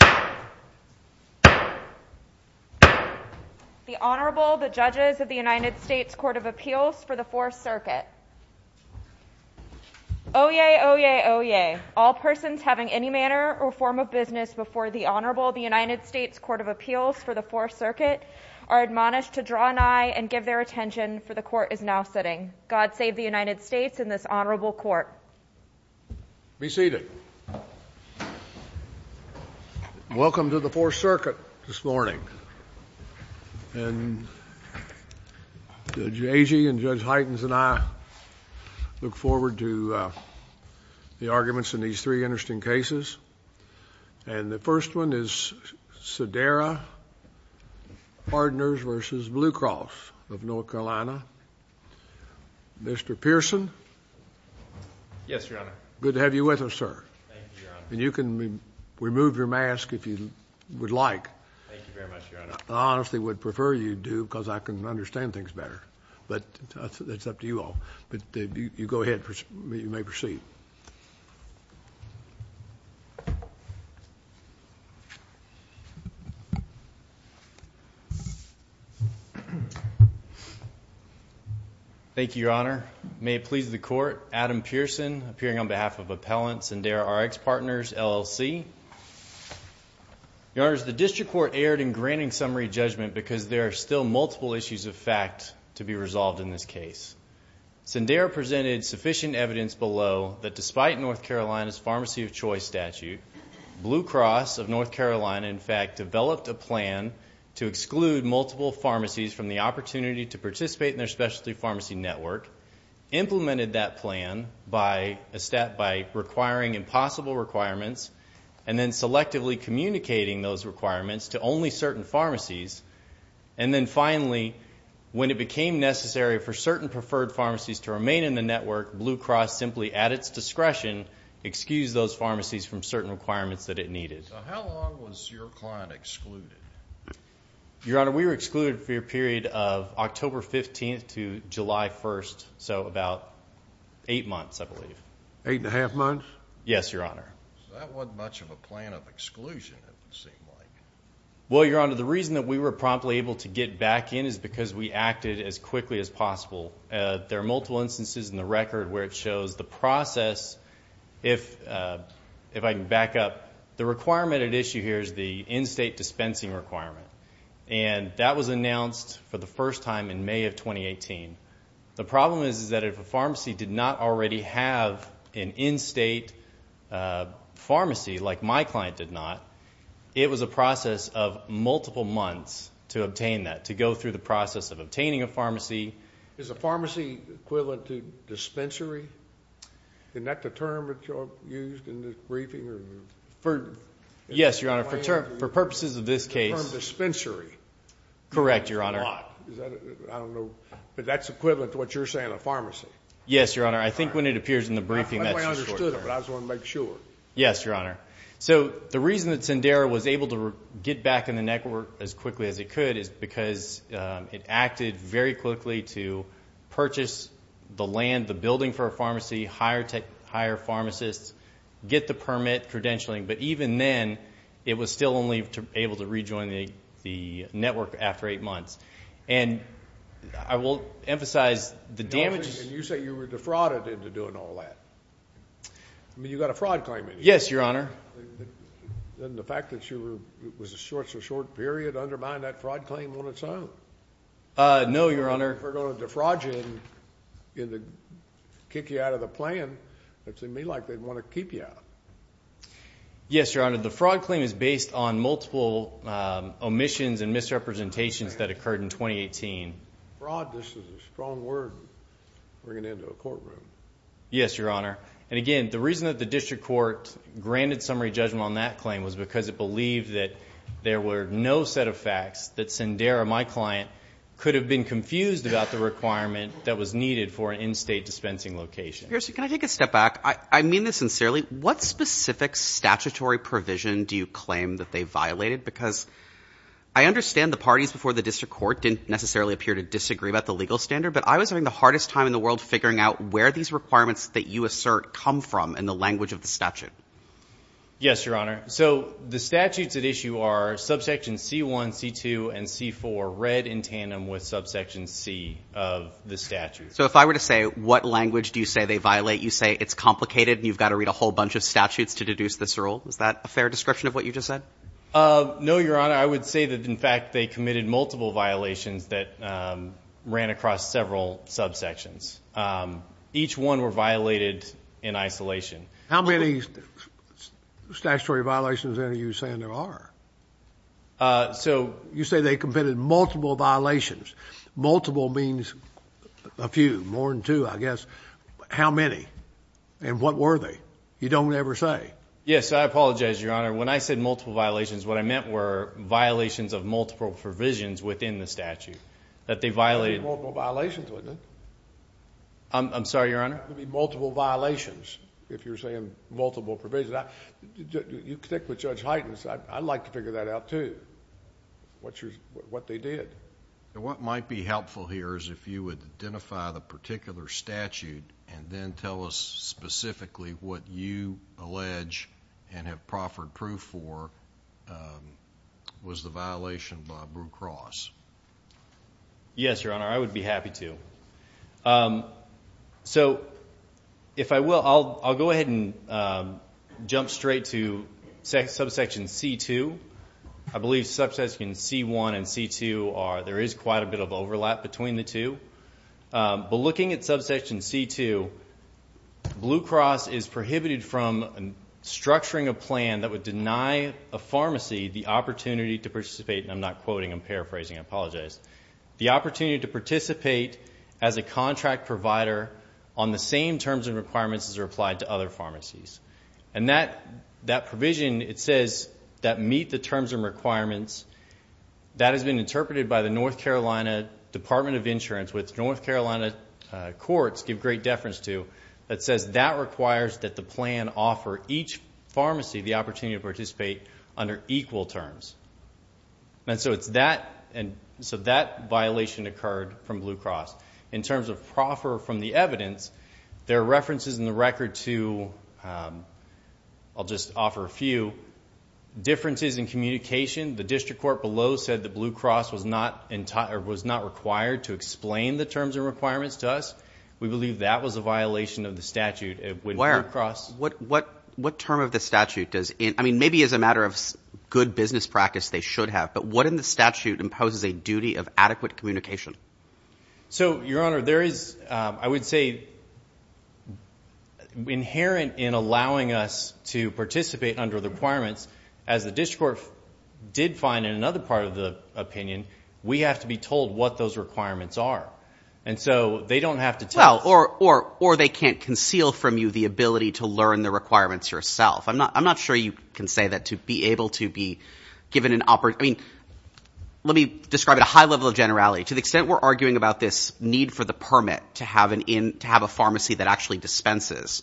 The Honorable, the Judges of the United States Court of Appeals for the Fourth Circuit. Oyez, oyez, oyez. All persons having any manner or form of business before the Honorable, the United States Court of Appeals for the Fourth Circuit are admonished to draw an eye and give their attention, for the Court is now sitting. God save the United States and this Honorable Court. Be seated. Welcome to the Fourth Circuit this morning. And Judge Agee and Judge Heitens and I look forward to the arguments in these three interesting cases. And the first one is Sederra Partners v. Blue Cross of North Carolina. Mr. Pearson. Yes, Your Honor. Good to have you with us, sir. Thank you, Your Honor. And you can remove your mask if you would like. Thank you very much, Your Honor. I honestly would prefer you do because I can understand things better. But it's up to you all. But you go ahead. You may proceed. Thank you, Your Honor. May it please the Court, Adam Pearson, appearing on behalf of Appellant Senderra RX Partners, LLC. Your Honor, the District Court erred in granting summary judgment because there are still multiple issues of fact to be resolved in this case. Senderra presented sufficient evidence below that despite North Carolina's pharmacy of choice statute, Blue Cross of North Carolina, in fact, developed a plan to exclude multiple pharmacies from the opportunity to participate in their specialty pharmacy network, implemented that plan by requiring impossible requirements, and then selectively communicating those requirements to only certain pharmacies. And then finally, when it became necessary for certain preferred pharmacies to remain in the network, Blue Cross simply, at its discretion, excused those pharmacies from certain requirements that it needed. So how long was your client excluded? Your Honor, we were excluded for a period of October 15th to July 1st, so about eight months, I believe. Eight and a half months? Yes, Your Honor. That wasn't much of a plan of exclusion, it would seem like. Well, Your Honor, the reason that we were promptly able to get back in is because we acted as quickly as possible. There are multiple instances in the record where it shows the process. If I can back up, the requirement at issue here is the in-state dispensing requirement, and that was announced for the first time in May of 2018. The problem is that if a pharmacy did not already have an in-state pharmacy like my client did not, it was a process of multiple months to obtain that, to go through the process of obtaining a pharmacy. Is a pharmacy equivalent to dispensary? Isn't that the term that you used in the briefing? Yes, Your Honor, for purposes of this case. The term dispensary. Correct, Your Honor. I don't know, but that's equivalent to what you're saying, a pharmacy. Yes, Your Honor. I think when it appears in the briefing, that's the sort of term. I understood it, but I just wanted to make sure. Yes, Your Honor. So the reason that Sendera was able to get back in the network as quickly as it could is because it acted very quickly to purchase the land, the building for a pharmacy, hire pharmacists, get the permit credentialing, but even then, it was still only able to rejoin the network after eight months. And I will emphasize the damage. And you say you were defrauded into doing all that. I mean, you got a fraud claim in here. Yes, Your Honor. Then the fact that it was a short-to-short period undermined that fraud claim on its own. No, Your Honor. If they're going to defraud you and kick you out of the plan, it would seem to me like they'd want to keep you out. Yes, Your Honor. The fraud claim is based on multiple omissions and misrepresentations that occurred in 2018. Fraud, this is a strong word, bringing it into a courtroom. Yes, Your Honor. And, again, the reason that the district court granted summary judgment on that claim was because it believed that there were no set of facts that Sendera, my client, could have been confused about the requirement that was needed for an in-state dispensing location. Pearson, can I take a step back? I mean this sincerely. What specific statutory provision do you claim that they violated? Because I understand the parties before the district court didn't necessarily appear to disagree about the legal standard, but I was having the hardest time in the world figuring out where these requirements that you assert come from in the language of the statute. Yes, Your Honor. So the statutes at issue are subsection C1, C2, and C4 read in tandem with subsection C of the statute. So if I were to say what language do you say they violate, you say it's complicated and you've got to read a whole bunch of statutes to deduce this rule? Is that a fair description of what you just said? No, Your Honor. I would say that, in fact, they committed multiple violations that ran across several subsections. Each one were violated in isolation. How many statutory violations are you saying there are? You say they committed multiple violations. Multiple means a few, more than two, I guess. How many and what were they? Yes, I apologize, Your Honor. When I said multiple violations, what I meant were violations of multiple provisions within the statute that they violated. You said multiple violations, wasn't it? I'm sorry, Your Honor? Multiple violations, if you're saying multiple provisions. You connect with Judge Heitens. I'd like to figure that out, too, what they did. What might be helpful here is if you would identify the particular statute and then tell us specifically what you allege and have proffered proof for was the violation by Brew Cross. Yes, Your Honor, I would be happy to. So if I will, I'll go ahead and jump straight to subsection C-2. I believe subsection C-1 and C-2, there is quite a bit of overlap between the two. But looking at subsection C-2, Brew Cross is prohibited from structuring a plan that would deny a pharmacy the opportunity to participate, and I'm not quoting, I'm paraphrasing, I apologize, the opportunity to participate as a contract provider on the same terms and requirements as are applied to other pharmacies. And that provision, it says that meet the terms and requirements. That has been interpreted by the North Carolina Department of Insurance, which North Carolina courts give great deference to, that says that requires that the plan offer each pharmacy the opportunity to participate under equal terms. And so that violation occurred from Brew Cross. In terms of proffer from the evidence, there are references in the record to, I'll just offer a few, differences in communication. The district court below said that Brew Cross was not required to explain the terms and requirements to us. We believe that was a violation of the statute. What term of the statute does, I mean, maybe as a matter of good business practice they should have, but what in the statute imposes a duty of adequate communication? So, Your Honor, there is, I would say, inherent in allowing us to participate under the requirements, as the district court did find in another part of the opinion, we have to be told what those requirements are. And so they don't have to tell us. Well, or they can't conceal from you the ability to learn the requirements yourself. I'm not sure you can say that to be able to be given an opportunity. I mean, let me describe at a high level of generality. To the extent we're arguing about this need for the permit to have a pharmacy that actually dispenses,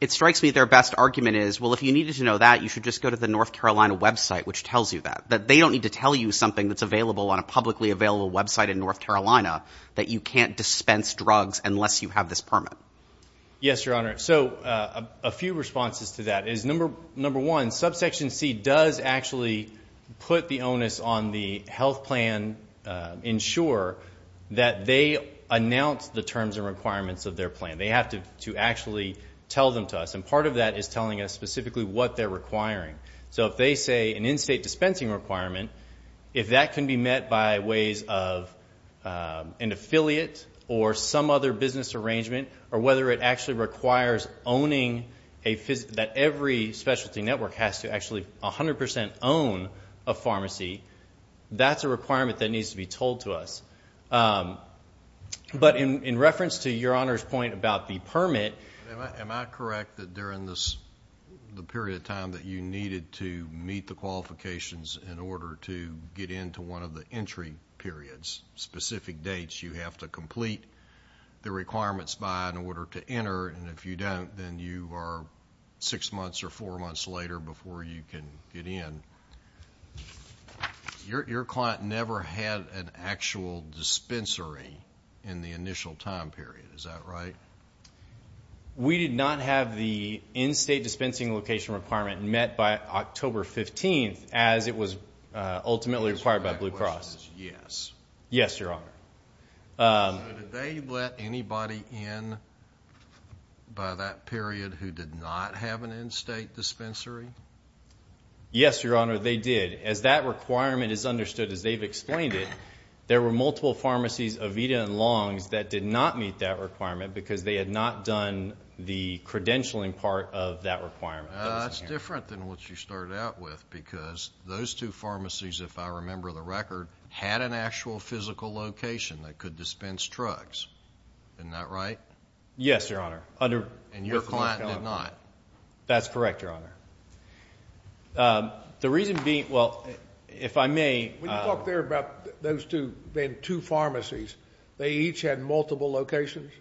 it strikes me their best argument is, well, if you needed to know that, you should just go to the North Carolina website, which tells you that. They don't need to tell you something that's available on a publicly available website in North Carolina that you can't dispense drugs unless you have this permit. Yes, Your Honor. So a few responses to that is, number one, subsection C does actually put the onus on the health plan insurer that they announce the terms and requirements of their plan. They have to actually tell them to us. And part of that is telling us specifically what they're requiring. So if they say an in-state dispensing requirement, if that can be met by ways of an affiliate or some other business arrangement, or whether it actually requires that every specialty network has to actually 100% own a pharmacy, that's a requirement that needs to be told to us. But in reference to Your Honor's point about the permit. Am I correct that during the period of time that you needed to meet the qualifications in order to get into one of the entry periods, specific dates you have to complete the requirements by in order to enter? And if you don't, then you are six months or four months later before you can get in. Your client never had an actual dispensary in the initial time period. Is that right? We did not have the in-state dispensing location requirement met by October 15th, as it was ultimately required by Blue Cross. Yes. Yes, Your Honor. So did they let anybody in by that period who did not have an in-state dispensary? Yes, Your Honor, they did. As that requirement is understood, as they've explained it, there were multiple pharmacies, Aveda and Long's, that did not meet that requirement because they had not done the credentialing part of that requirement. That's different than what you started out with because those two pharmacies, if I remember the record, had an actual physical location that could dispense drugs. Isn't that right? Yes, Your Honor. And your client did not? That's correct, Your Honor. The reason being, well, if I may. When you talk there about those two pharmacies, they each had multiple locations?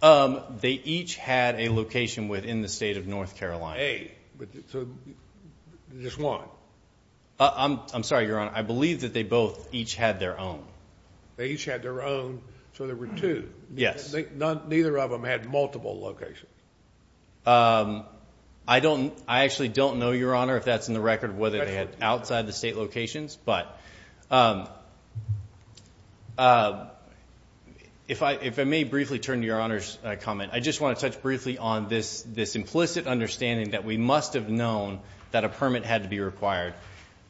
They each had a location within the state of North Carolina. Just one? I'm sorry, Your Honor. I believe that they both each had their own. They each had their own, so there were two. Yes. Neither of them had multiple locations. I actually don't know, Your Honor, if that's in the record, whether they had outside the state locations. But if I may briefly turn to Your Honor's comment, I just want to touch briefly on this implicit understanding that we must have known that a permit had to be required.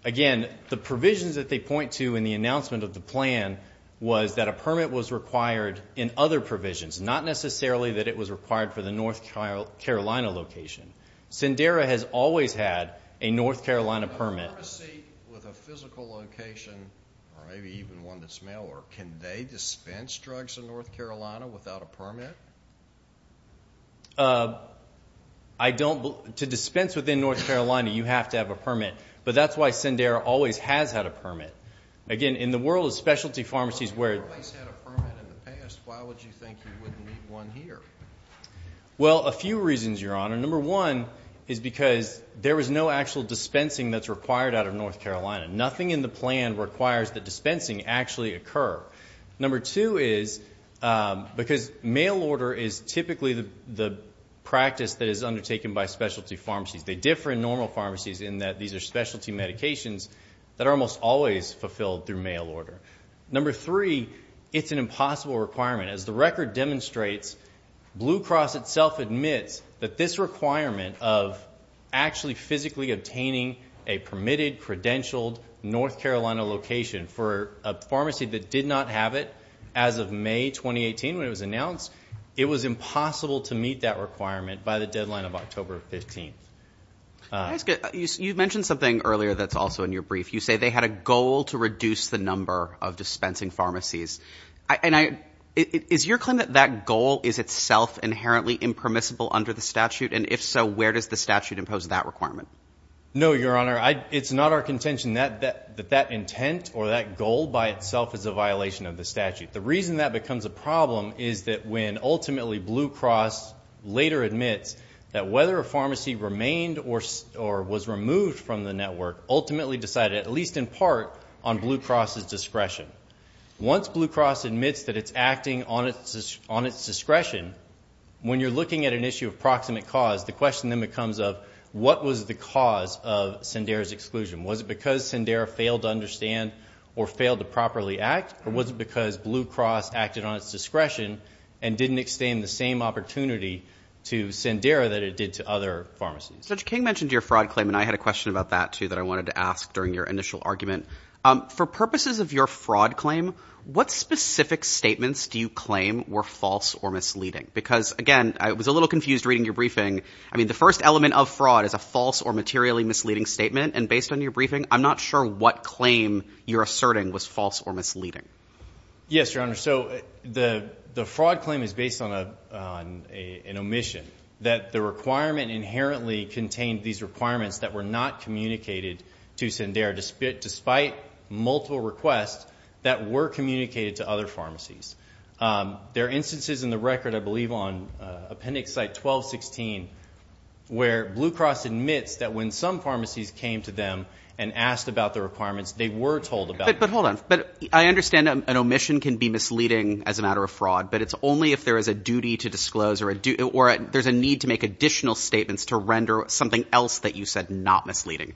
Again, the provisions that they point to in the announcement of the plan was that a permit was required in other provisions, not necessarily that it was required for the North Carolina location. Sendera has always had a North Carolina permit. A pharmacy with a physical location, or maybe even one that's mail order, can they dispense drugs in North Carolina without a permit? To dispense within North Carolina, you have to have a permit. But that's why Sendera always has had a permit. Again, in the world of specialty pharmacies where— If they always had a permit in the past, why would you think you wouldn't need one here? Well, a few reasons, Your Honor. Number one is because there was no actual dispensing that's required out of North Carolina. Nothing in the plan requires that dispensing actually occur. Number two is because mail order is typically the practice that is undertaken by specialty pharmacies. They differ in normal pharmacies in that these are specialty medications that are almost always fulfilled through mail order. Number three, it's an impossible requirement. As the record demonstrates, Blue Cross itself admits that this requirement of actually physically obtaining a permitted, credentialed, North Carolina location for a pharmacy that did not have it as of May 2018 when it was announced, it was impossible to meet that requirement by the deadline of October 15th. You mentioned something earlier that's also in your brief. You say they had a goal to reduce the number of dispensing pharmacies. Is your claim that that goal is itself inherently impermissible under the statute? And if so, where does the statute impose that requirement? No, Your Honor. It's not our contention that that intent or that goal by itself is a violation of the statute. The reason that becomes a problem is that when ultimately Blue Cross later admits that whether a pharmacy remained or was removed from the network ultimately decided, at least in part, on Blue Cross' discretion. Once Blue Cross admits that it's acting on its discretion, when you're looking at an issue of proximate cause, the question then becomes of what was the cause of Sendera's exclusion. Was it because Sendera failed to understand or failed to properly act, or was it because Blue Cross acted on its discretion and didn't extend the same opportunity to Sendera that it did to other pharmacies? Judge King mentioned your fraud claim, and I had a question about that too that I wanted to ask during your initial argument. For purposes of your fraud claim, what specific statements do you claim were false or misleading? Because, again, I was a little confused reading your briefing. I mean, the first element of fraud is a false or materially misleading statement, and based on your briefing, I'm not sure what claim you're asserting was false or misleading. Yes, Your Honor. So the fraud claim is based on an omission, that the requirement inherently contained these requirements that were not communicated to Sendera, despite multiple requests that were communicated to other pharmacies. There are instances in the record, I believe, on Appendix Site 1216, where Blue Cross admits that when some pharmacies came to them and asked about the requirements, they were told about them. But hold on. I understand an omission can be misleading as a matter of fraud, but it's only if there is a duty to disclose or there's a need to make additional statements to render something else that you said not misleading.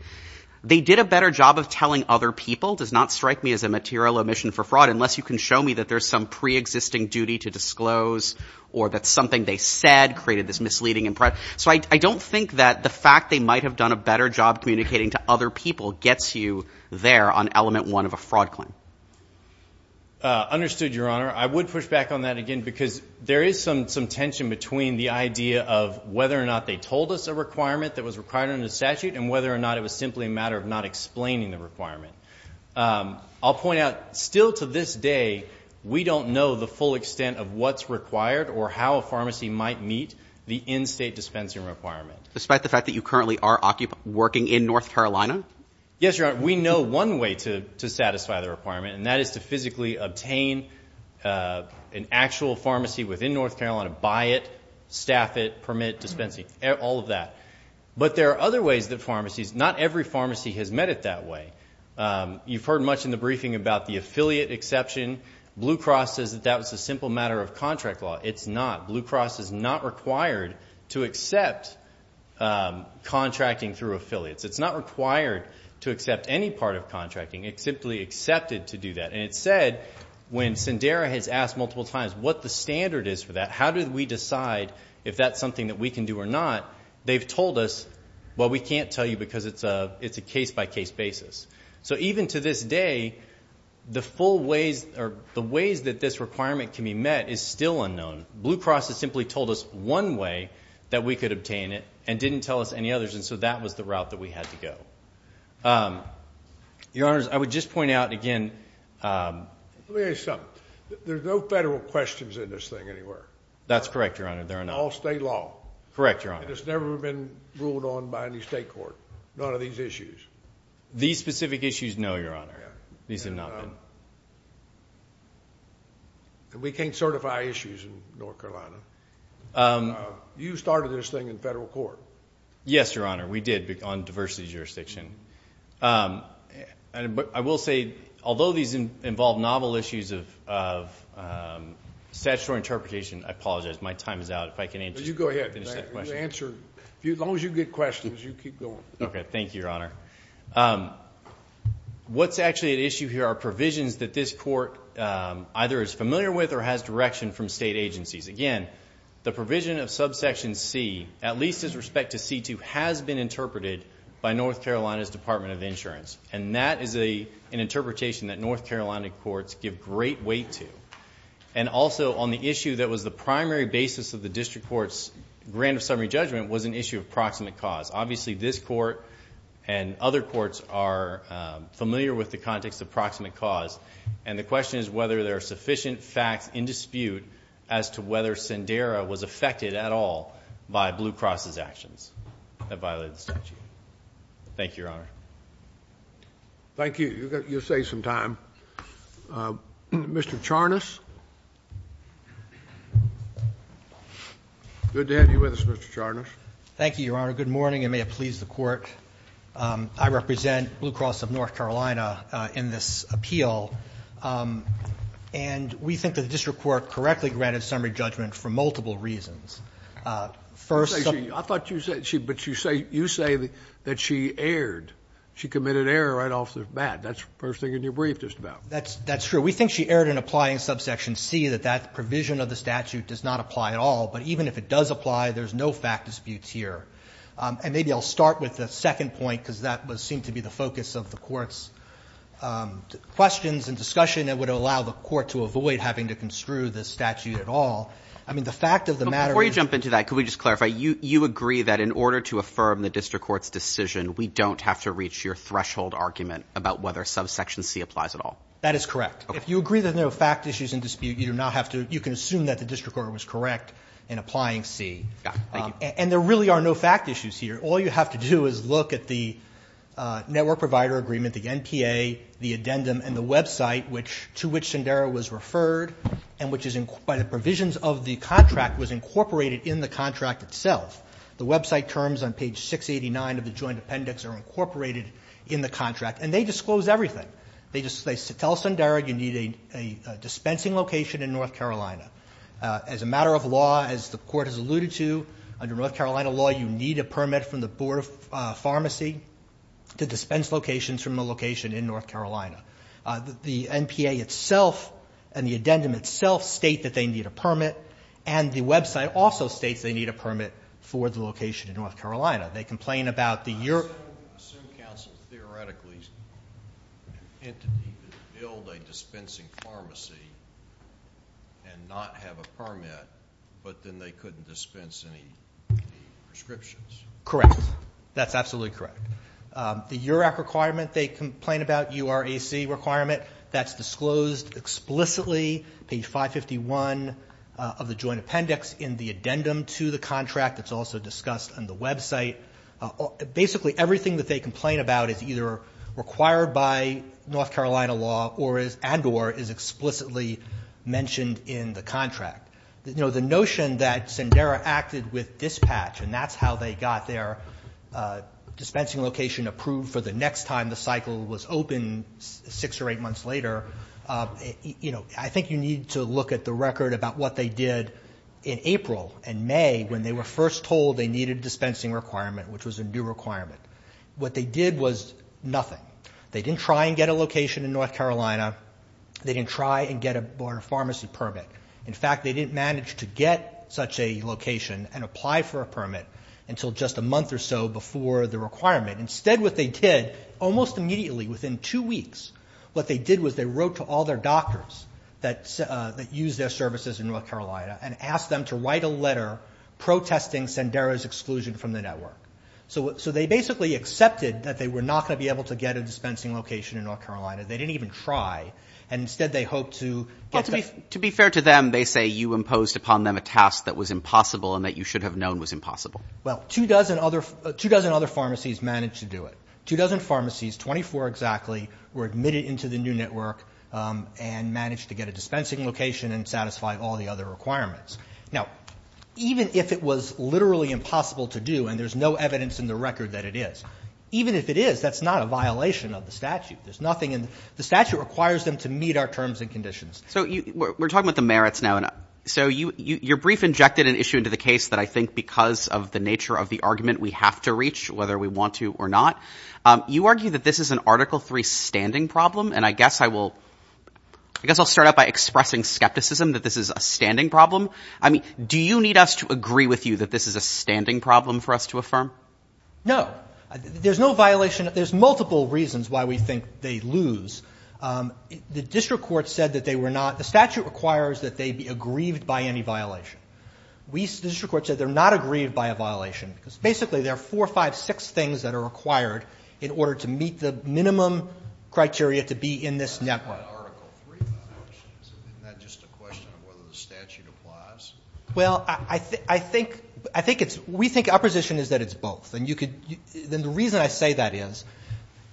They did a better job of telling other people, does not strike me as a material omission for fraud, unless you can show me that there's some preexisting duty to disclose or that something they said created this misleading impression. So I don't think that the fact they might have done a better job communicating to other people gets you there on element one of a fraud claim. Understood, Your Honor. I would push back on that again because there is some tension between the idea of whether or not they told us a requirement that was required under the statute and whether or not it was simply a matter of not explaining the requirement. I'll point out, still to this day, we don't know the full extent of what's required or how a pharmacy might meet the in-state dispensing requirement. Despite the fact that you currently are working in North Carolina? Yes, Your Honor. We know one way to satisfy the requirement, and that is to physically obtain an actual pharmacy within North Carolina, buy it, staff it, permit dispensing, all of that. But there are other ways that pharmacies, not every pharmacy has met it that way. You've heard much in the briefing about the affiliate exception. Blue Cross says that that was a simple matter of contract law. It's not. Blue Cross is not required to accept contracting through affiliates. It's not required to accept any part of contracting. It's simply accepted to do that. And it's said when Sendera has asked multiple times what the standard is for that, how do we decide if that's something that we can do or not, they've told us, well, we can't tell you because it's a case-by-case basis. So even to this day, the ways that this requirement can be met is still unknown. Blue Cross has simply told us one way that we could obtain it and didn't tell us any others, and so that was the route that we had to go. Your Honors, I would just point out again. Let me ask you something. There's no federal questions in this thing anywhere. That's correct, Your Honor, there are not. All state law. Correct, Your Honor. It's never been ruled on by any state court, none of these issues. These specific issues, no, Your Honor. These have not been. And we can't certify issues in North Carolina. You started this thing in federal court. Yes, Your Honor, we did on diversity jurisdiction. But I will say, although these involve novel issues of statutory interpretation, I apologize, my time is out. You go ahead. As long as you get questions, you keep going. Okay, thank you, Your Honor. What's actually at issue here are provisions that this court either is familiar with or has direction from state agencies. Again, the provision of subsection C, at least with respect to C-2, has been interpreted by North Carolina's Department of Insurance. And that is an interpretation that North Carolina courts give great weight to. And also on the issue that was the primary basis of the district court's grant of summary judgment was an issue of proximate cause. Obviously, this court and other courts are familiar with the context of proximate cause. And the question is whether there are sufficient facts in dispute as to whether Sendera was affected at all by Blue Cross's actions that violated the statute. Thank you, Your Honor. Thank you. You saved some time. Mr. Charnas. Good to have you with us, Mr. Charnas. Thank you, Your Honor. Good morning, and may it please the court. I represent Blue Cross of North Carolina in this appeal. And we think that the district court correctly granted summary judgment for multiple reasons. First of all... I thought you said she, but you say that she erred. She committed error right off the bat. That's the first thing in your brief just about. That's true. We think she erred in applying subsection C, that that provision of the statute does not apply at all. But even if it does apply, there's no fact disputes here. And maybe I'll start with the second point, because that seemed to be the focus of the court's questions and discussion that would allow the court to avoid having to construe the statute at all. I mean, the fact of the matter is... Before you jump into that, could we just clarify? You agree that in order to affirm the district court's decision, we don't have to reach your threshold argument about whether subsection C applies at all. That is correct. If you agree there's no fact issues in dispute, you do not have to... You can assume that the district court was correct in applying C. Yeah, thank you. And there really are no fact issues here. All you have to do is look at the network provider agreement, the NPA, the addendum, and the website to which Sundara was referred, and which by the provisions of the contract was incorporated in the contract itself. The website terms on page 689 of the joint appendix are incorporated in the contract, and they disclose everything. They tell Sundara you need a dispensing location in North Carolina. As a matter of law, as the court has alluded to, under North Carolina law you need a permit from the Board of Pharmacy to dispense locations from a location in North Carolina. The NPA itself and the addendum itself state that they need a permit, and the website also states they need a permit for the location in North Carolina. They complain about the... I assume counsel theoretically intended to build a dispensing pharmacy and not have a permit, but then they couldn't dispense any prescriptions. Correct. That's absolutely correct. The URAC requirement they complain about, URAC requirement, that's disclosed explicitly, page 551 of the joint appendix, in the addendum to the contract. It's also discussed on the website. Basically everything that they complain about is either required by North The notion that Sundara acted with dispatch, and that's how they got their dispensing location approved for the next time the cycle was open six or eight months later, I think you need to look at the record about what they did in April and May when they were first told they needed a dispensing requirement, which was a new requirement. What they did was nothing. They didn't try and get a location in North Carolina. They didn't try and get a pharmacy permit. In fact, they didn't manage to get such a location and apply for a permit until just a month or so before the requirement. Instead what they did, almost immediately, within two weeks, what they did was they wrote to all their doctors that use their services in North Carolina and asked them to write a letter protesting Sundara's exclusion from the network. So they basically accepted that they were not going to be able to get a dispensing location in North Carolina. They didn't even try. And instead they hoped to get the ---- But to be fair to them, they say you imposed upon them a task that was impossible and that you should have known was impossible. Well, two dozen other pharmacies managed to do it. Two dozen pharmacies, 24 exactly, were admitted into the new network and managed to get a dispensing location and satisfy all the other requirements. Now, even if it was literally impossible to do and there's no evidence in the record that it is, even if it is, that's not a violation of the statute. There's nothing in the statute requires them to meet our terms and conditions. So we're talking about the merits now. So your brief injected an issue into the case that I think because of the nature of the argument we have to reach, whether we want to or not. You argue that this is an Article III standing problem, and I guess I'll start out by expressing skepticism that this is a standing problem. Do you need us to agree with you that this is a standing problem for us to affirm? No. There's no violation. There's multiple reasons why we think they lose. The district court said that they were not – the statute requires that they be aggrieved by any violation. The district court said they're not aggrieved by a violation because basically there are four, five, six things that are required in order to meet the minimum criteria to be in this network. That's not Article III violations. Isn't that just a question of whether the statute applies? Well, I think it's – we think opposition is that it's both. And you could – then the reason I say that is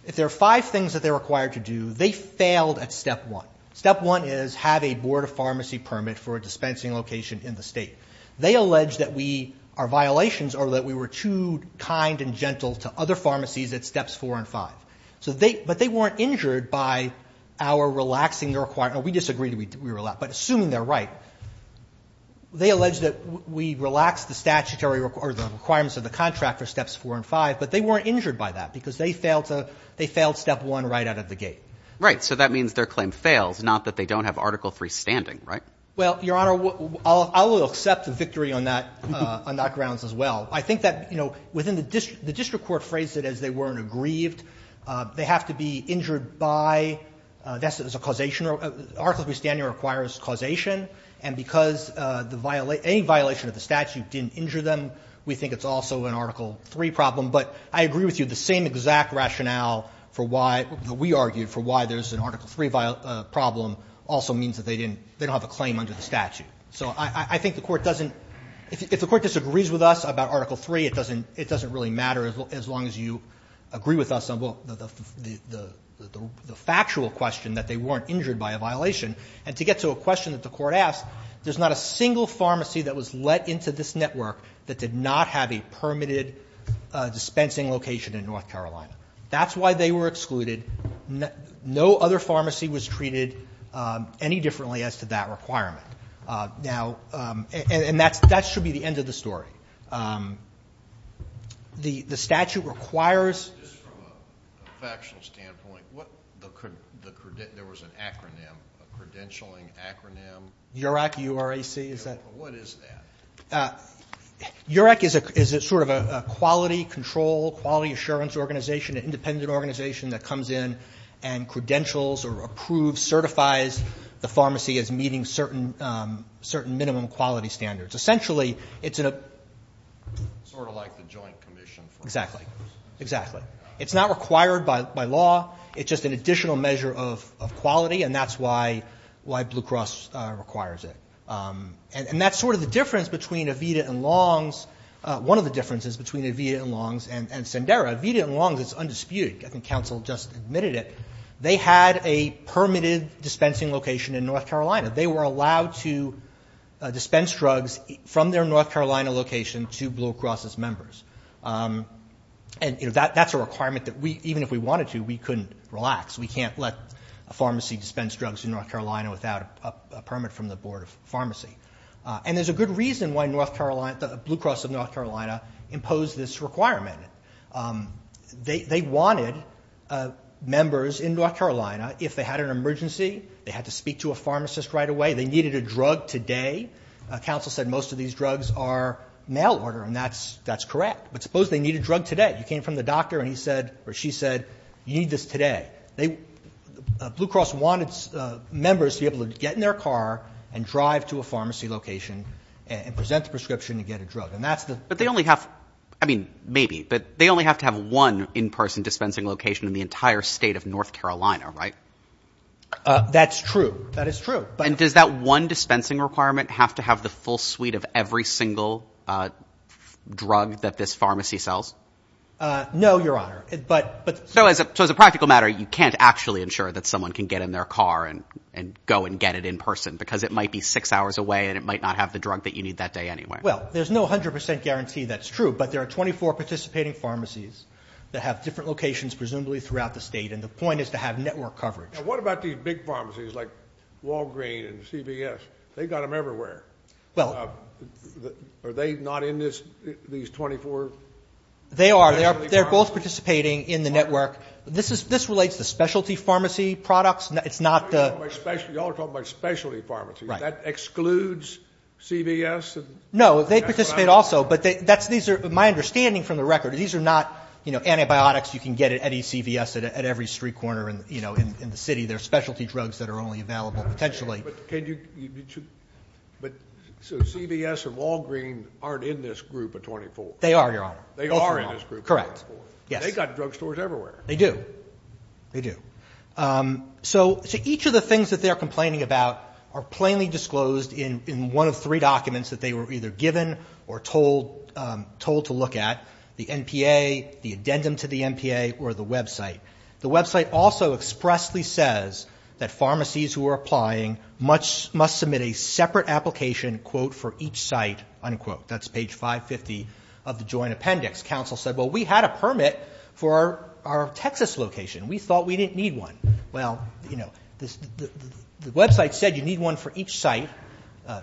if there are five things that they're required to do, they failed at step one. Step one is have a Board of Pharmacy permit for a dispensing location in the state. They allege that we – our violations are that we were too kind and gentle to other pharmacies at steps four and five. So they – but they weren't injured by our relaxing the – we disagree that we – but assuming they're right, they allege that we relaxed the statutory – or the requirements of the contract for steps four and five, but they weren't injured by that because they failed to – they failed step one right out of the gate. Right. So that means their claim fails, not that they don't have Article III standing, right? Well, Your Honor, I will accept the victory on that – on that grounds as well. I think that, you know, within the district – the district court phrased it as they weren't aggrieved. They have to be injured by – that's a causation. Article III standing requires causation. And because the – any violation of the statute didn't injure them, we think it's also an Article III problem. But I agree with you, the same exact rationale for why – that we argued for why there's an Article III problem also means that they didn't – they don't have a claim under the statute. So I think the court doesn't – if the court disagrees with us about Article III, it doesn't really matter as long as you agree with us on the factual question that they weren't injured by a violation. And to get to a question that the court asked, there's not a single pharmacy that was let into this network that did not have a permitted dispensing location in North Carolina. That's why they were excluded. No other pharmacy was treated any differently as to that requirement. Now – and that should be the end of the story. The statute requires – There was an acronym, a credentialing acronym. URAC, U-R-A-C. What is that? URAC is sort of a quality control, quality assurance organization, an independent organization that comes in and credentials or approves, certifies the pharmacy as meeting certain minimum quality standards. Essentially, it's a – Sort of like the Joint Commission for Claimers. Exactly. It's not required by law. It's just an additional measure of quality, and that's why Blue Cross requires it. And that's sort of the difference between Aveda and Long's. One of the differences between Aveda and Long's and Sendera, Aveda and Long's is undisputed. I think counsel just admitted it. They had a permitted dispensing location in North Carolina. They were allowed to dispense drugs from their North Carolina location to Blue Cross's members. And that's a requirement that even if we wanted to, we couldn't relax. We can't let a pharmacy dispense drugs in North Carolina without a permit from the Board of Pharmacy. And there's a good reason why North Carolina – Blue Cross of North Carolina imposed this requirement. They wanted members in North Carolina, if they had an emergency, they had to speak to a pharmacist right away. They needed a drug today. Counsel said most of these drugs are mail order, and that's correct. But suppose they need a drug today. You came from the doctor and he said or she said you need this today. Blue Cross wanted members to be able to get in their car and drive to a pharmacy location and present the prescription to get a drug. And that's the – But they only have – I mean, maybe, but they only have to have one in-person dispensing location in the entire state of North Carolina, right? That's true. That is true. And does that one dispensing requirement have to have the full suite of every single drug that this pharmacy sells? No, Your Honor, but – So as a practical matter, you can't actually ensure that someone can get in their car and go and get it in person because it might be six hours away and it might not have the drug that you need that day anyway. Well, there's no 100 percent guarantee that's true, but there are 24 participating pharmacies that have different locations presumably throughout the state, and the point is to have network coverage. And what about these big pharmacies like Walgreen's and CVS? They've got them everywhere. Are they not in these 24 specialty pharmacies? They are. They're both participating in the network. This relates to specialty pharmacy products. It's not the – You all are talking about specialty pharmacies. That excludes CVS? No, they participate also, but these are – my understanding from the record, these are not, you know, antibiotics you can get at any CVS at every street corner, you know, in the city. They're specialty drugs that are only available potentially. But can you – so CVS and Walgreen aren't in this group of 24? They are, Your Honor. They are in this group of 24. Correct. Yes. They've got drugstores everywhere. They do. They do. So each of the things that they're complaining about are plainly disclosed in one of three documents that they were either given or told to look at, the NPA, the addendum to the NPA, or the website. The website also expressly says that pharmacies who are applying must submit a separate application, quote, for each site, unquote. That's page 550 of the joint appendix. Counsel said, well, we had a permit for our Texas location. We thought we didn't need one. Well, you know, the website said you need one for each site. And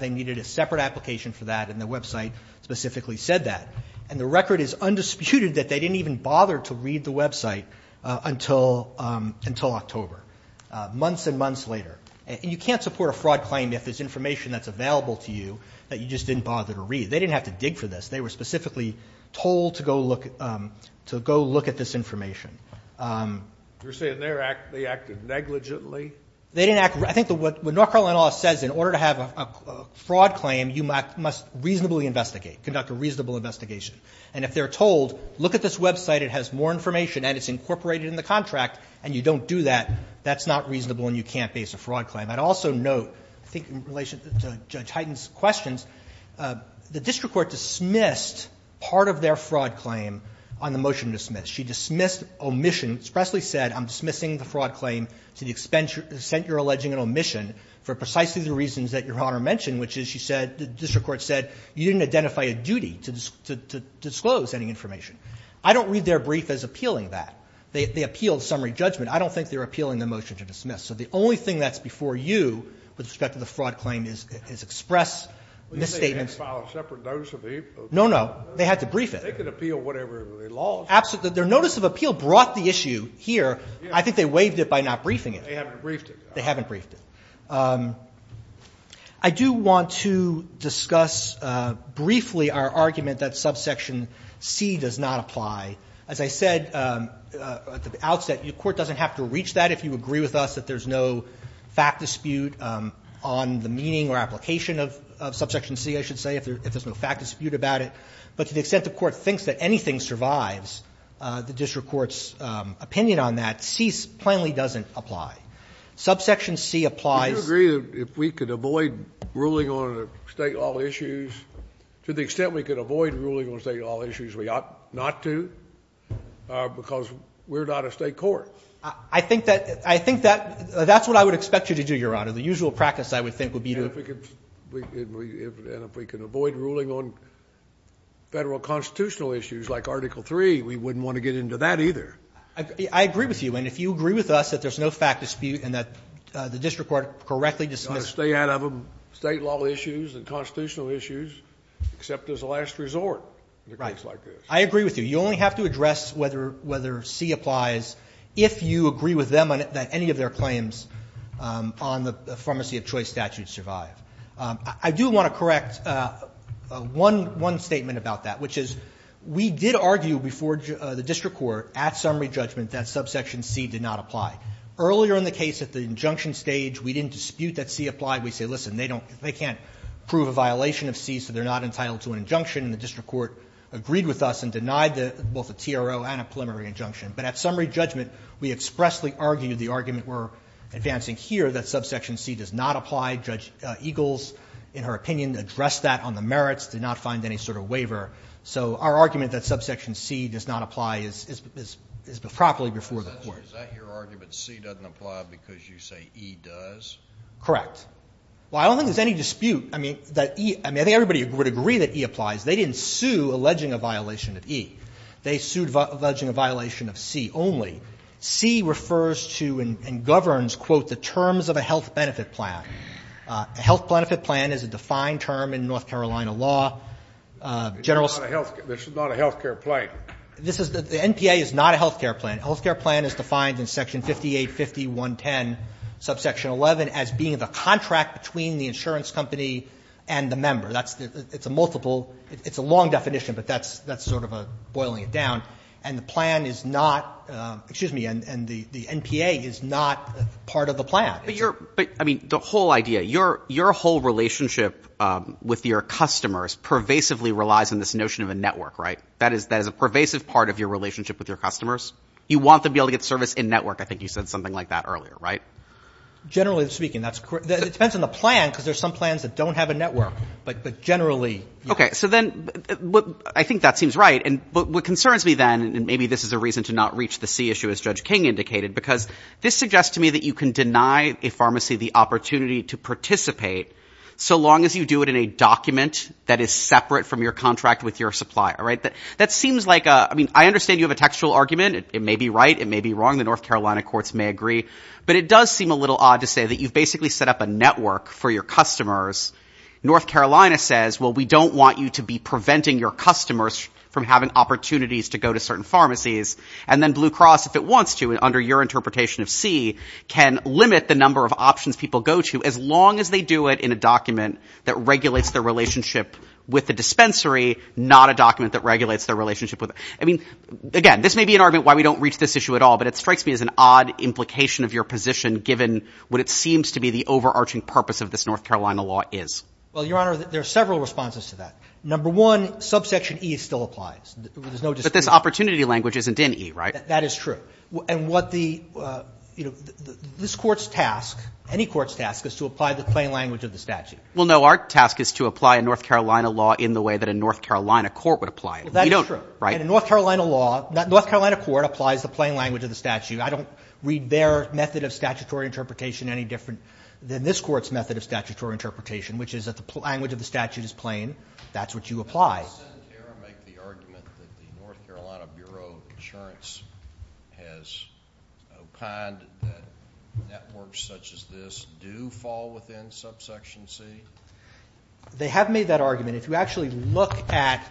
they needed a separate application for that, and the website specifically said that. And the record is undisputed that they didn't even bother to read the website until October, months and months later. And you can't support a fraud claim if there's information that's available to you that you just didn't bother to read. They didn't have to dig for this. They were specifically told to go look at this information. You're saying they acted negligently? I think what North Carolina law says, in order to have a fraud claim, you must reasonably investigate, conduct a reasonable investigation. And if they're told, look at this website, it has more information, and it's incorporated in the contract, and you don't do that, that's not reasonable and you can't base a fraud claim. I'd also note, I think in relation to Judge Hyten's questions, the district court dismissed part of their fraud claim on the motion to dismiss. She dismissed omission, expressly said, I'm dismissing the fraud claim to the extent you're alleging an omission for precisely the reasons that Your Honor mentioned, which is, she said, the district court said, you didn't identify a duty to disclose any information. I don't read their brief as appealing that. They appealed summary judgment. I don't think they're appealing the motion to dismiss. So the only thing that's before you with respect to the fraud claim is express misstatements. You mean they had to file a separate notice of heap? No, no. They had to brief it. They could appeal whatever they lost. Their notice of appeal brought the issue here. I think they waived it by not briefing it. They haven't briefed it. They haven't briefed it. I do want to discuss briefly our argument that subsection C does not apply. As I said at the outset, the court doesn't have to reach that if you agree with us that there's no fact dispute on the meaning or application of subsection C, I should say, if there's no fact dispute about it. But to the extent the court thinks that anything survives the district court's opinion on that, C plainly doesn't apply. Subsection C applies. Do you agree that if we could avoid ruling on state law issues, to the extent we could avoid ruling on state law issues, we ought not to? Because we're not a state court. I think that's what I would expect you to do, Your Honor. The usual practice, I would think, would be to And if we can avoid ruling on federal constitutional issues, like Article III, we wouldn't want to get into that either. I agree with you. And if you agree with us that there's no fact dispute and that the district court correctly dismissed it. You ought to stay out of state law issues and constitutional issues, except as a last resort in a case like this. Right. I agree with you. You only have to address whether C applies if you agree with them that any of their claims on the pharmacy of choice statute survive. I do want to correct one statement about that, which is we did argue before the district court at summary judgment that subsection C did not apply. Earlier in the case at the injunction stage, we didn't dispute that C applied. We said, listen, they can't prove a violation of C, so they're not entitled to an injunction. And the district court agreed with us and denied both a TRO and a preliminary injunction. But at summary judgment, we expressly argued the argument we're advancing here that subsection C does not apply. Judge Eagles, in her opinion, addressed that on the merits, did not find any sort of waiver. So our argument that subsection C does not apply is properly before the court. Is that your argument, C doesn't apply because you say E does? Correct. Well, I don't think there's any dispute. I mean, I think everybody would agree that E applies. They didn't sue alleging a violation of E. They sued alleging a violation of C only. C refers to and governs, quote, the terms of a health benefit plan. A health benefit plan is a defined term in North Carolina law. General's. It's not a health care plan. This is the NPA is not a health care plan. A health care plan is defined in Section 5850.110, subsection 11, as being the contract between the insurance company and the member. It's a multiple. It's a long definition, but that's sort of a boiling it down. And the plan is not, excuse me, and the NPA is not part of the plan. But I mean, the whole idea, your whole relationship with your customers pervasively relies on this notion of a network, right? That is a pervasive part of your relationship with your customers. You want them to be able to get service in network. I think you said something like that earlier, right? Generally speaking, that's correct. It depends on the plan because there's some plans that don't have a network. But generally. Okay. So then I think that seems right. But what concerns me then, and maybe this is a reason to not reach the C issue, as Judge King indicated, because this suggests to me that you can deny a pharmacy the opportunity to participate so long as you do it in a document that is separate from your contract with your supplier, right? That seems like a, I mean, I understand you have a textual argument. It may be right. It may be wrong. The North Carolina courts may agree. But it does seem a little odd to say that you've basically set up a network for your customers. North Carolina says, well, we don't want you to be preventing your customers from having opportunities to go to certain pharmacies. And then Blue Cross, if it wants to, under your interpretation of C, can limit the number of options people go to as long as they do it in a document that regulates their relationship with the dispensary, not a document that regulates their relationship with it. I mean, again, this may be an argument why we don't reach this issue at all. But it strikes me as an odd implication of your position, given what it seems to be the overarching purpose of this North Carolina law is. Well, Your Honor, there are several responses to that. Number one, subsection E still applies. There's no dispute. But this opportunity language isn't in E, right? That is true. And what the, you know, this Court's task, any Court's task, is to apply the plain language of the statute. Well, no. Our task is to apply a North Carolina law in the way that a North Carolina court would apply it. That is true. And a North Carolina law, North Carolina court applies the plain language of the statute. I don't read their method of statutory interpretation any different than this Court's method of statutory interpretation, which is that the language of the statute is plain. That's what you apply. Didn't the Senate here make the argument that the North Carolina Bureau of Insurance has opined that networks such as this do fall within subsection C? They have made that argument. If you actually look at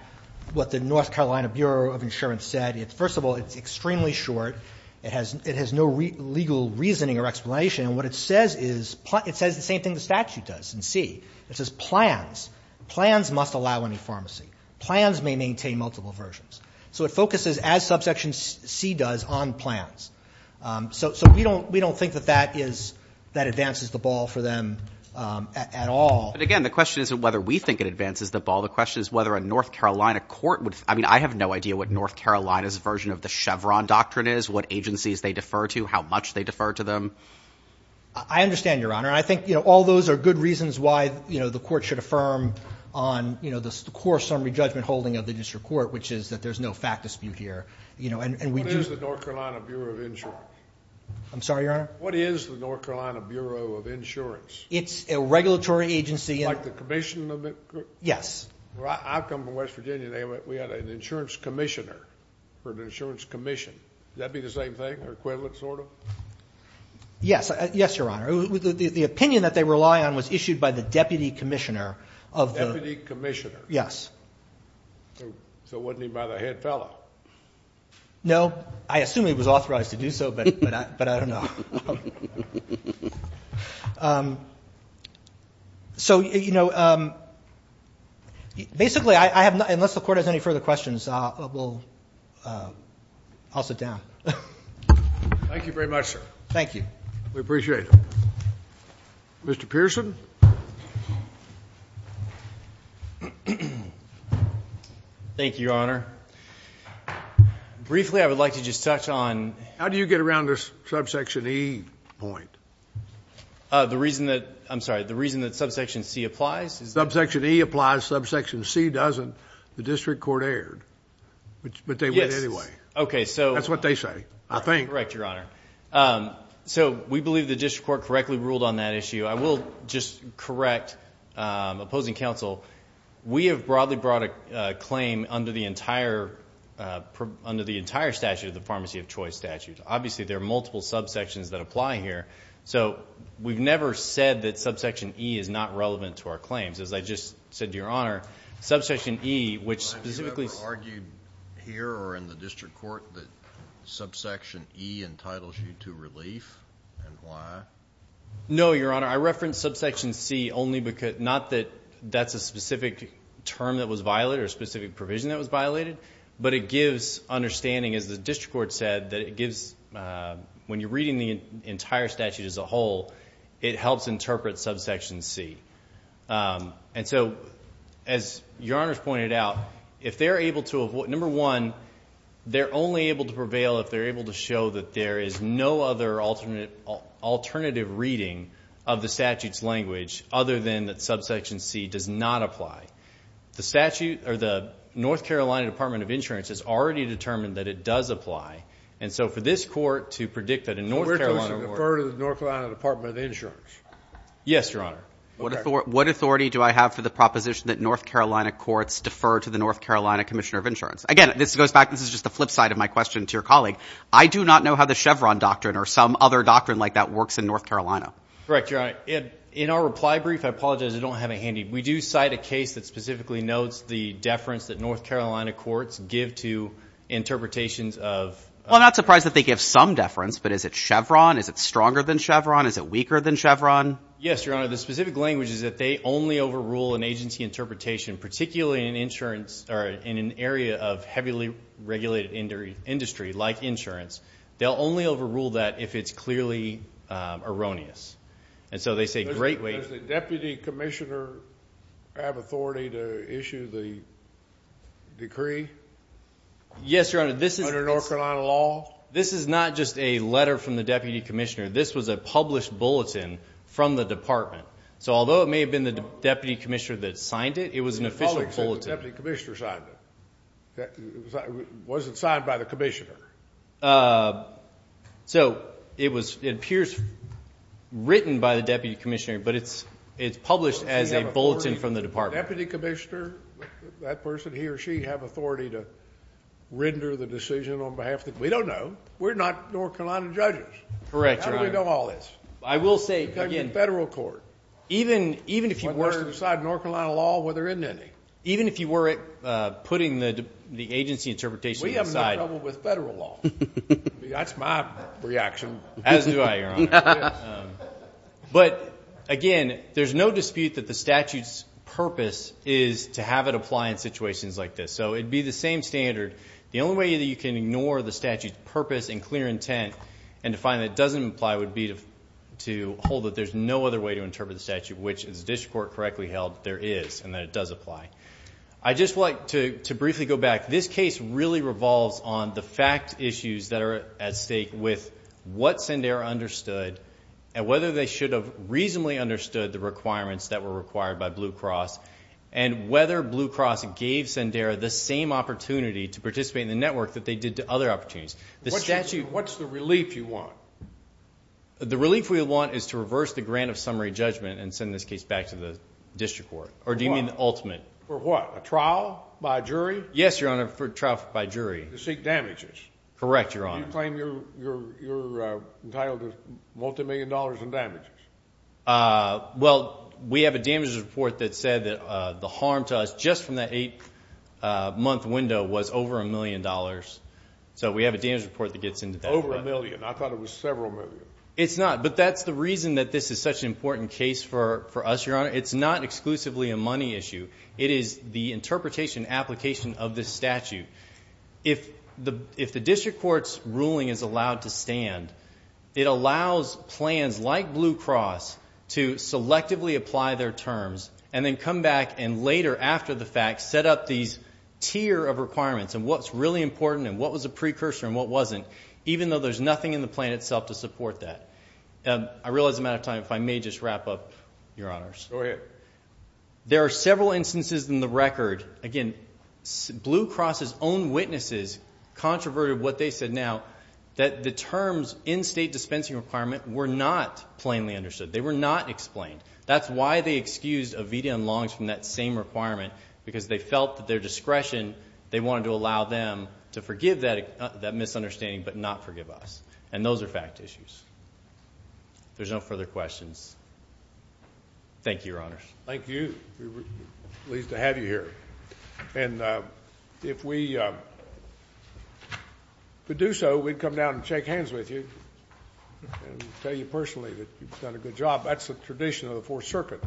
what the North Carolina Bureau of Insurance said, first of all, it's extremely short. It has no legal reasoning or explanation. And what it says is, it says the same thing the statute does in C. It says plans. Plans must allow any pharmacy. Plans may maintain multiple versions. So it focuses, as subsection C does, on plans. So we don't think that that is, that advances the ball for them at all. But, again, the question isn't whether we think it advances the ball. The question is whether a North Carolina court would, I mean, I have no idea what North Carolina's version of the Chevron doctrine is, what agencies they defer to, how much they defer to them. I understand, Your Honor. I think, you know, all those are good reasons why, you know, the Court should affirm on, you know, the core summary judgment holding of the district court, which is that there's no fact dispute here. You know, and we do. What is the North Carolina Bureau of Insurance? I'm sorry, Your Honor? What is the North Carolina Bureau of Insurance? It's a regulatory agency. Like the commission of it? Yes. I come from West Virginia. We had an insurance commissioner for an insurance commission. Would that be the same thing, or equivalent sort of? Yes. Yes, Your Honor. The opinion that they rely on was issued by the deputy commissioner of the... Deputy commissioner. Yes. So wasn't he by the head fellow? No. I assume he was authorized to do so, but I don't know. So, you know, basically I have not... Unless the Court has any further questions, I'll sit down. Thank you very much, sir. Thank you. We appreciate it. Mr. Pearson. Thank you, Your Honor. Briefly, I would like to just touch on... How do you get around this subsection here? The reason that... I'm sorry. The reason that subsection C applies? Subsection E applies. Subsection C doesn't. The district court erred, but they win anyway. Okay, so... That's what they say, I think. Correct, Your Honor. So we believe the district court correctly ruled on that issue. I will just correct opposing counsel. We have broadly brought a claim under the entire statute of the pharmacy of choice statute. Obviously, there are multiple subsections that apply here. So we've never said that subsection E is not relevant to our claims. As I just said to Your Honor, subsection E, which specifically... Have you ever argued here or in the district court that subsection E entitles you to relief and why? No, Your Honor. I reference subsection C only because... Not that that's a specific term that was violated or a specific provision that was violated, but it gives understanding, as the district court said, that it gives... When you're reading the entire statute as a whole, it helps interpret subsection C. And so, as Your Honor's pointed out, if they're able to... Number one, they're only able to prevail if they're able to show that there is no other alternative reading of the statute's language other than that subsection C does not apply. The statute or the North Carolina Department of Insurance has already determined that it does apply. And so for this court to predict that a North Carolina... So we're supposed to defer to the North Carolina Department of Insurance? Yes, Your Honor. What authority do I have for the proposition that North Carolina courts defer to the North Carolina Commissioner of Insurance? Again, this goes back... This is just the flip side of my question to your colleague. I do not know how the Chevron doctrine or some other doctrine like that works in North Carolina. Correct, Your Honor. In our reply brief, I apologize. I don't have it handy. We do cite a case that specifically notes the deference that North Carolina courts give to interpretations of... Well, I'm not surprised that they give some deference, but is it Chevron? Is it stronger than Chevron? Is it weaker than Chevron? Yes, Your Honor. The specific language is that they only overrule an agency interpretation, particularly in insurance... or in an area of heavily regulated industry like insurance. They'll only overrule that if it's clearly erroneous. And so they say... Do I have authority to issue the decree? Yes, Your Honor. Under North Carolina law? This is not just a letter from the deputy commissioner. This was a published bulletin from the department. So although it may have been the deputy commissioner that signed it, it was an official bulletin. The public said the deputy commissioner signed it. It wasn't signed by the commissioner. So it appears written by the deputy commissioner, but it's published as a bulletin from the department. Does the deputy commissioner, that person, he or she, have authority to render the decision on behalf of the... We don't know. We're not North Carolina judges. Correct, Your Honor. How do we know all this? I will say again... Because it's a federal court. Even if you were... It's what they're supposed to decide in North Carolina law. Well, there isn't any. Even if you were putting the agency interpretation aside... We have no trouble with federal law. That's my reaction. As do I, Your Honor. But, again, there's no dispute that the statute's purpose is to have it apply in situations like this. So it would be the same standard. The only way that you can ignore the statute's purpose and clear intent and to find that it doesn't apply would be to hold that there's no other way to interpret the statute, which, as the district court correctly held, there is and that it does apply. I'd just like to briefly go back. This case really revolves on the fact issues that are at stake with what Sendera understood and whether they should have reasonably understood the requirements that were required by Blue Cross and whether Blue Cross gave Sendera the same opportunity to participate in the network that they did to other opportunities. What's the relief you want? The relief we want is to reverse the grant of summary judgment and send this case back to the district court. Or do you mean the ultimate? For what? A trial by a jury? Yes, Your Honor, for a trial by jury. To seek damages? Correct, Your Honor. Do you claim you're entitled to multimillion dollars in damages? Well, we have a damages report that said that the harm to us just from that eight-month window was over a million dollars. So we have a damages report that gets into that. Over a million. I thought it was several million. It's not. But that's the reason that this is such an important case for us, Your Honor. It's not exclusively a money issue. It is the interpretation and application of this statute. If the district court's ruling is allowed to stand, it allows plans like Blue Cross to selectively apply their terms and then come back and later after the fact set up these tier of requirements and what's really important and what was a precursor and what wasn't, even though there's nothing in the plan itself to support that. I realize I'm out of time. If I may just wrap up, Your Honors. Go ahead. There are several instances in the record. Again, Blue Cross's own witnesses controverted what they said now, that the terms in state dispensing requirement were not plainly understood. They were not explained. That's why they excused Ovita and Longs from that same requirement because they felt that their discretion, they wanted to allow them to forgive that misunderstanding but not forgive us. And those are fact issues. There's no further questions. Thank you, Your Honors. Thank you. We're pleased to have you here. And if we could do so, we'd come down and shake hands with you and tell you personally that you've done a good job. That's the tradition of the Fourth Circuit.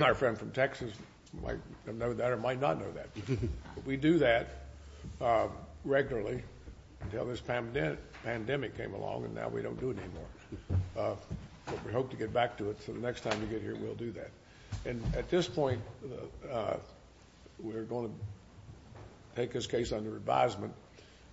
Our friend from Texas might know that or might not know that. We do that regularly until this pandemic came along and now we don't do it anymore. But we hope to get back to it. So the next time you get here, we'll do that. And at this point, we're going to take this case under advisement.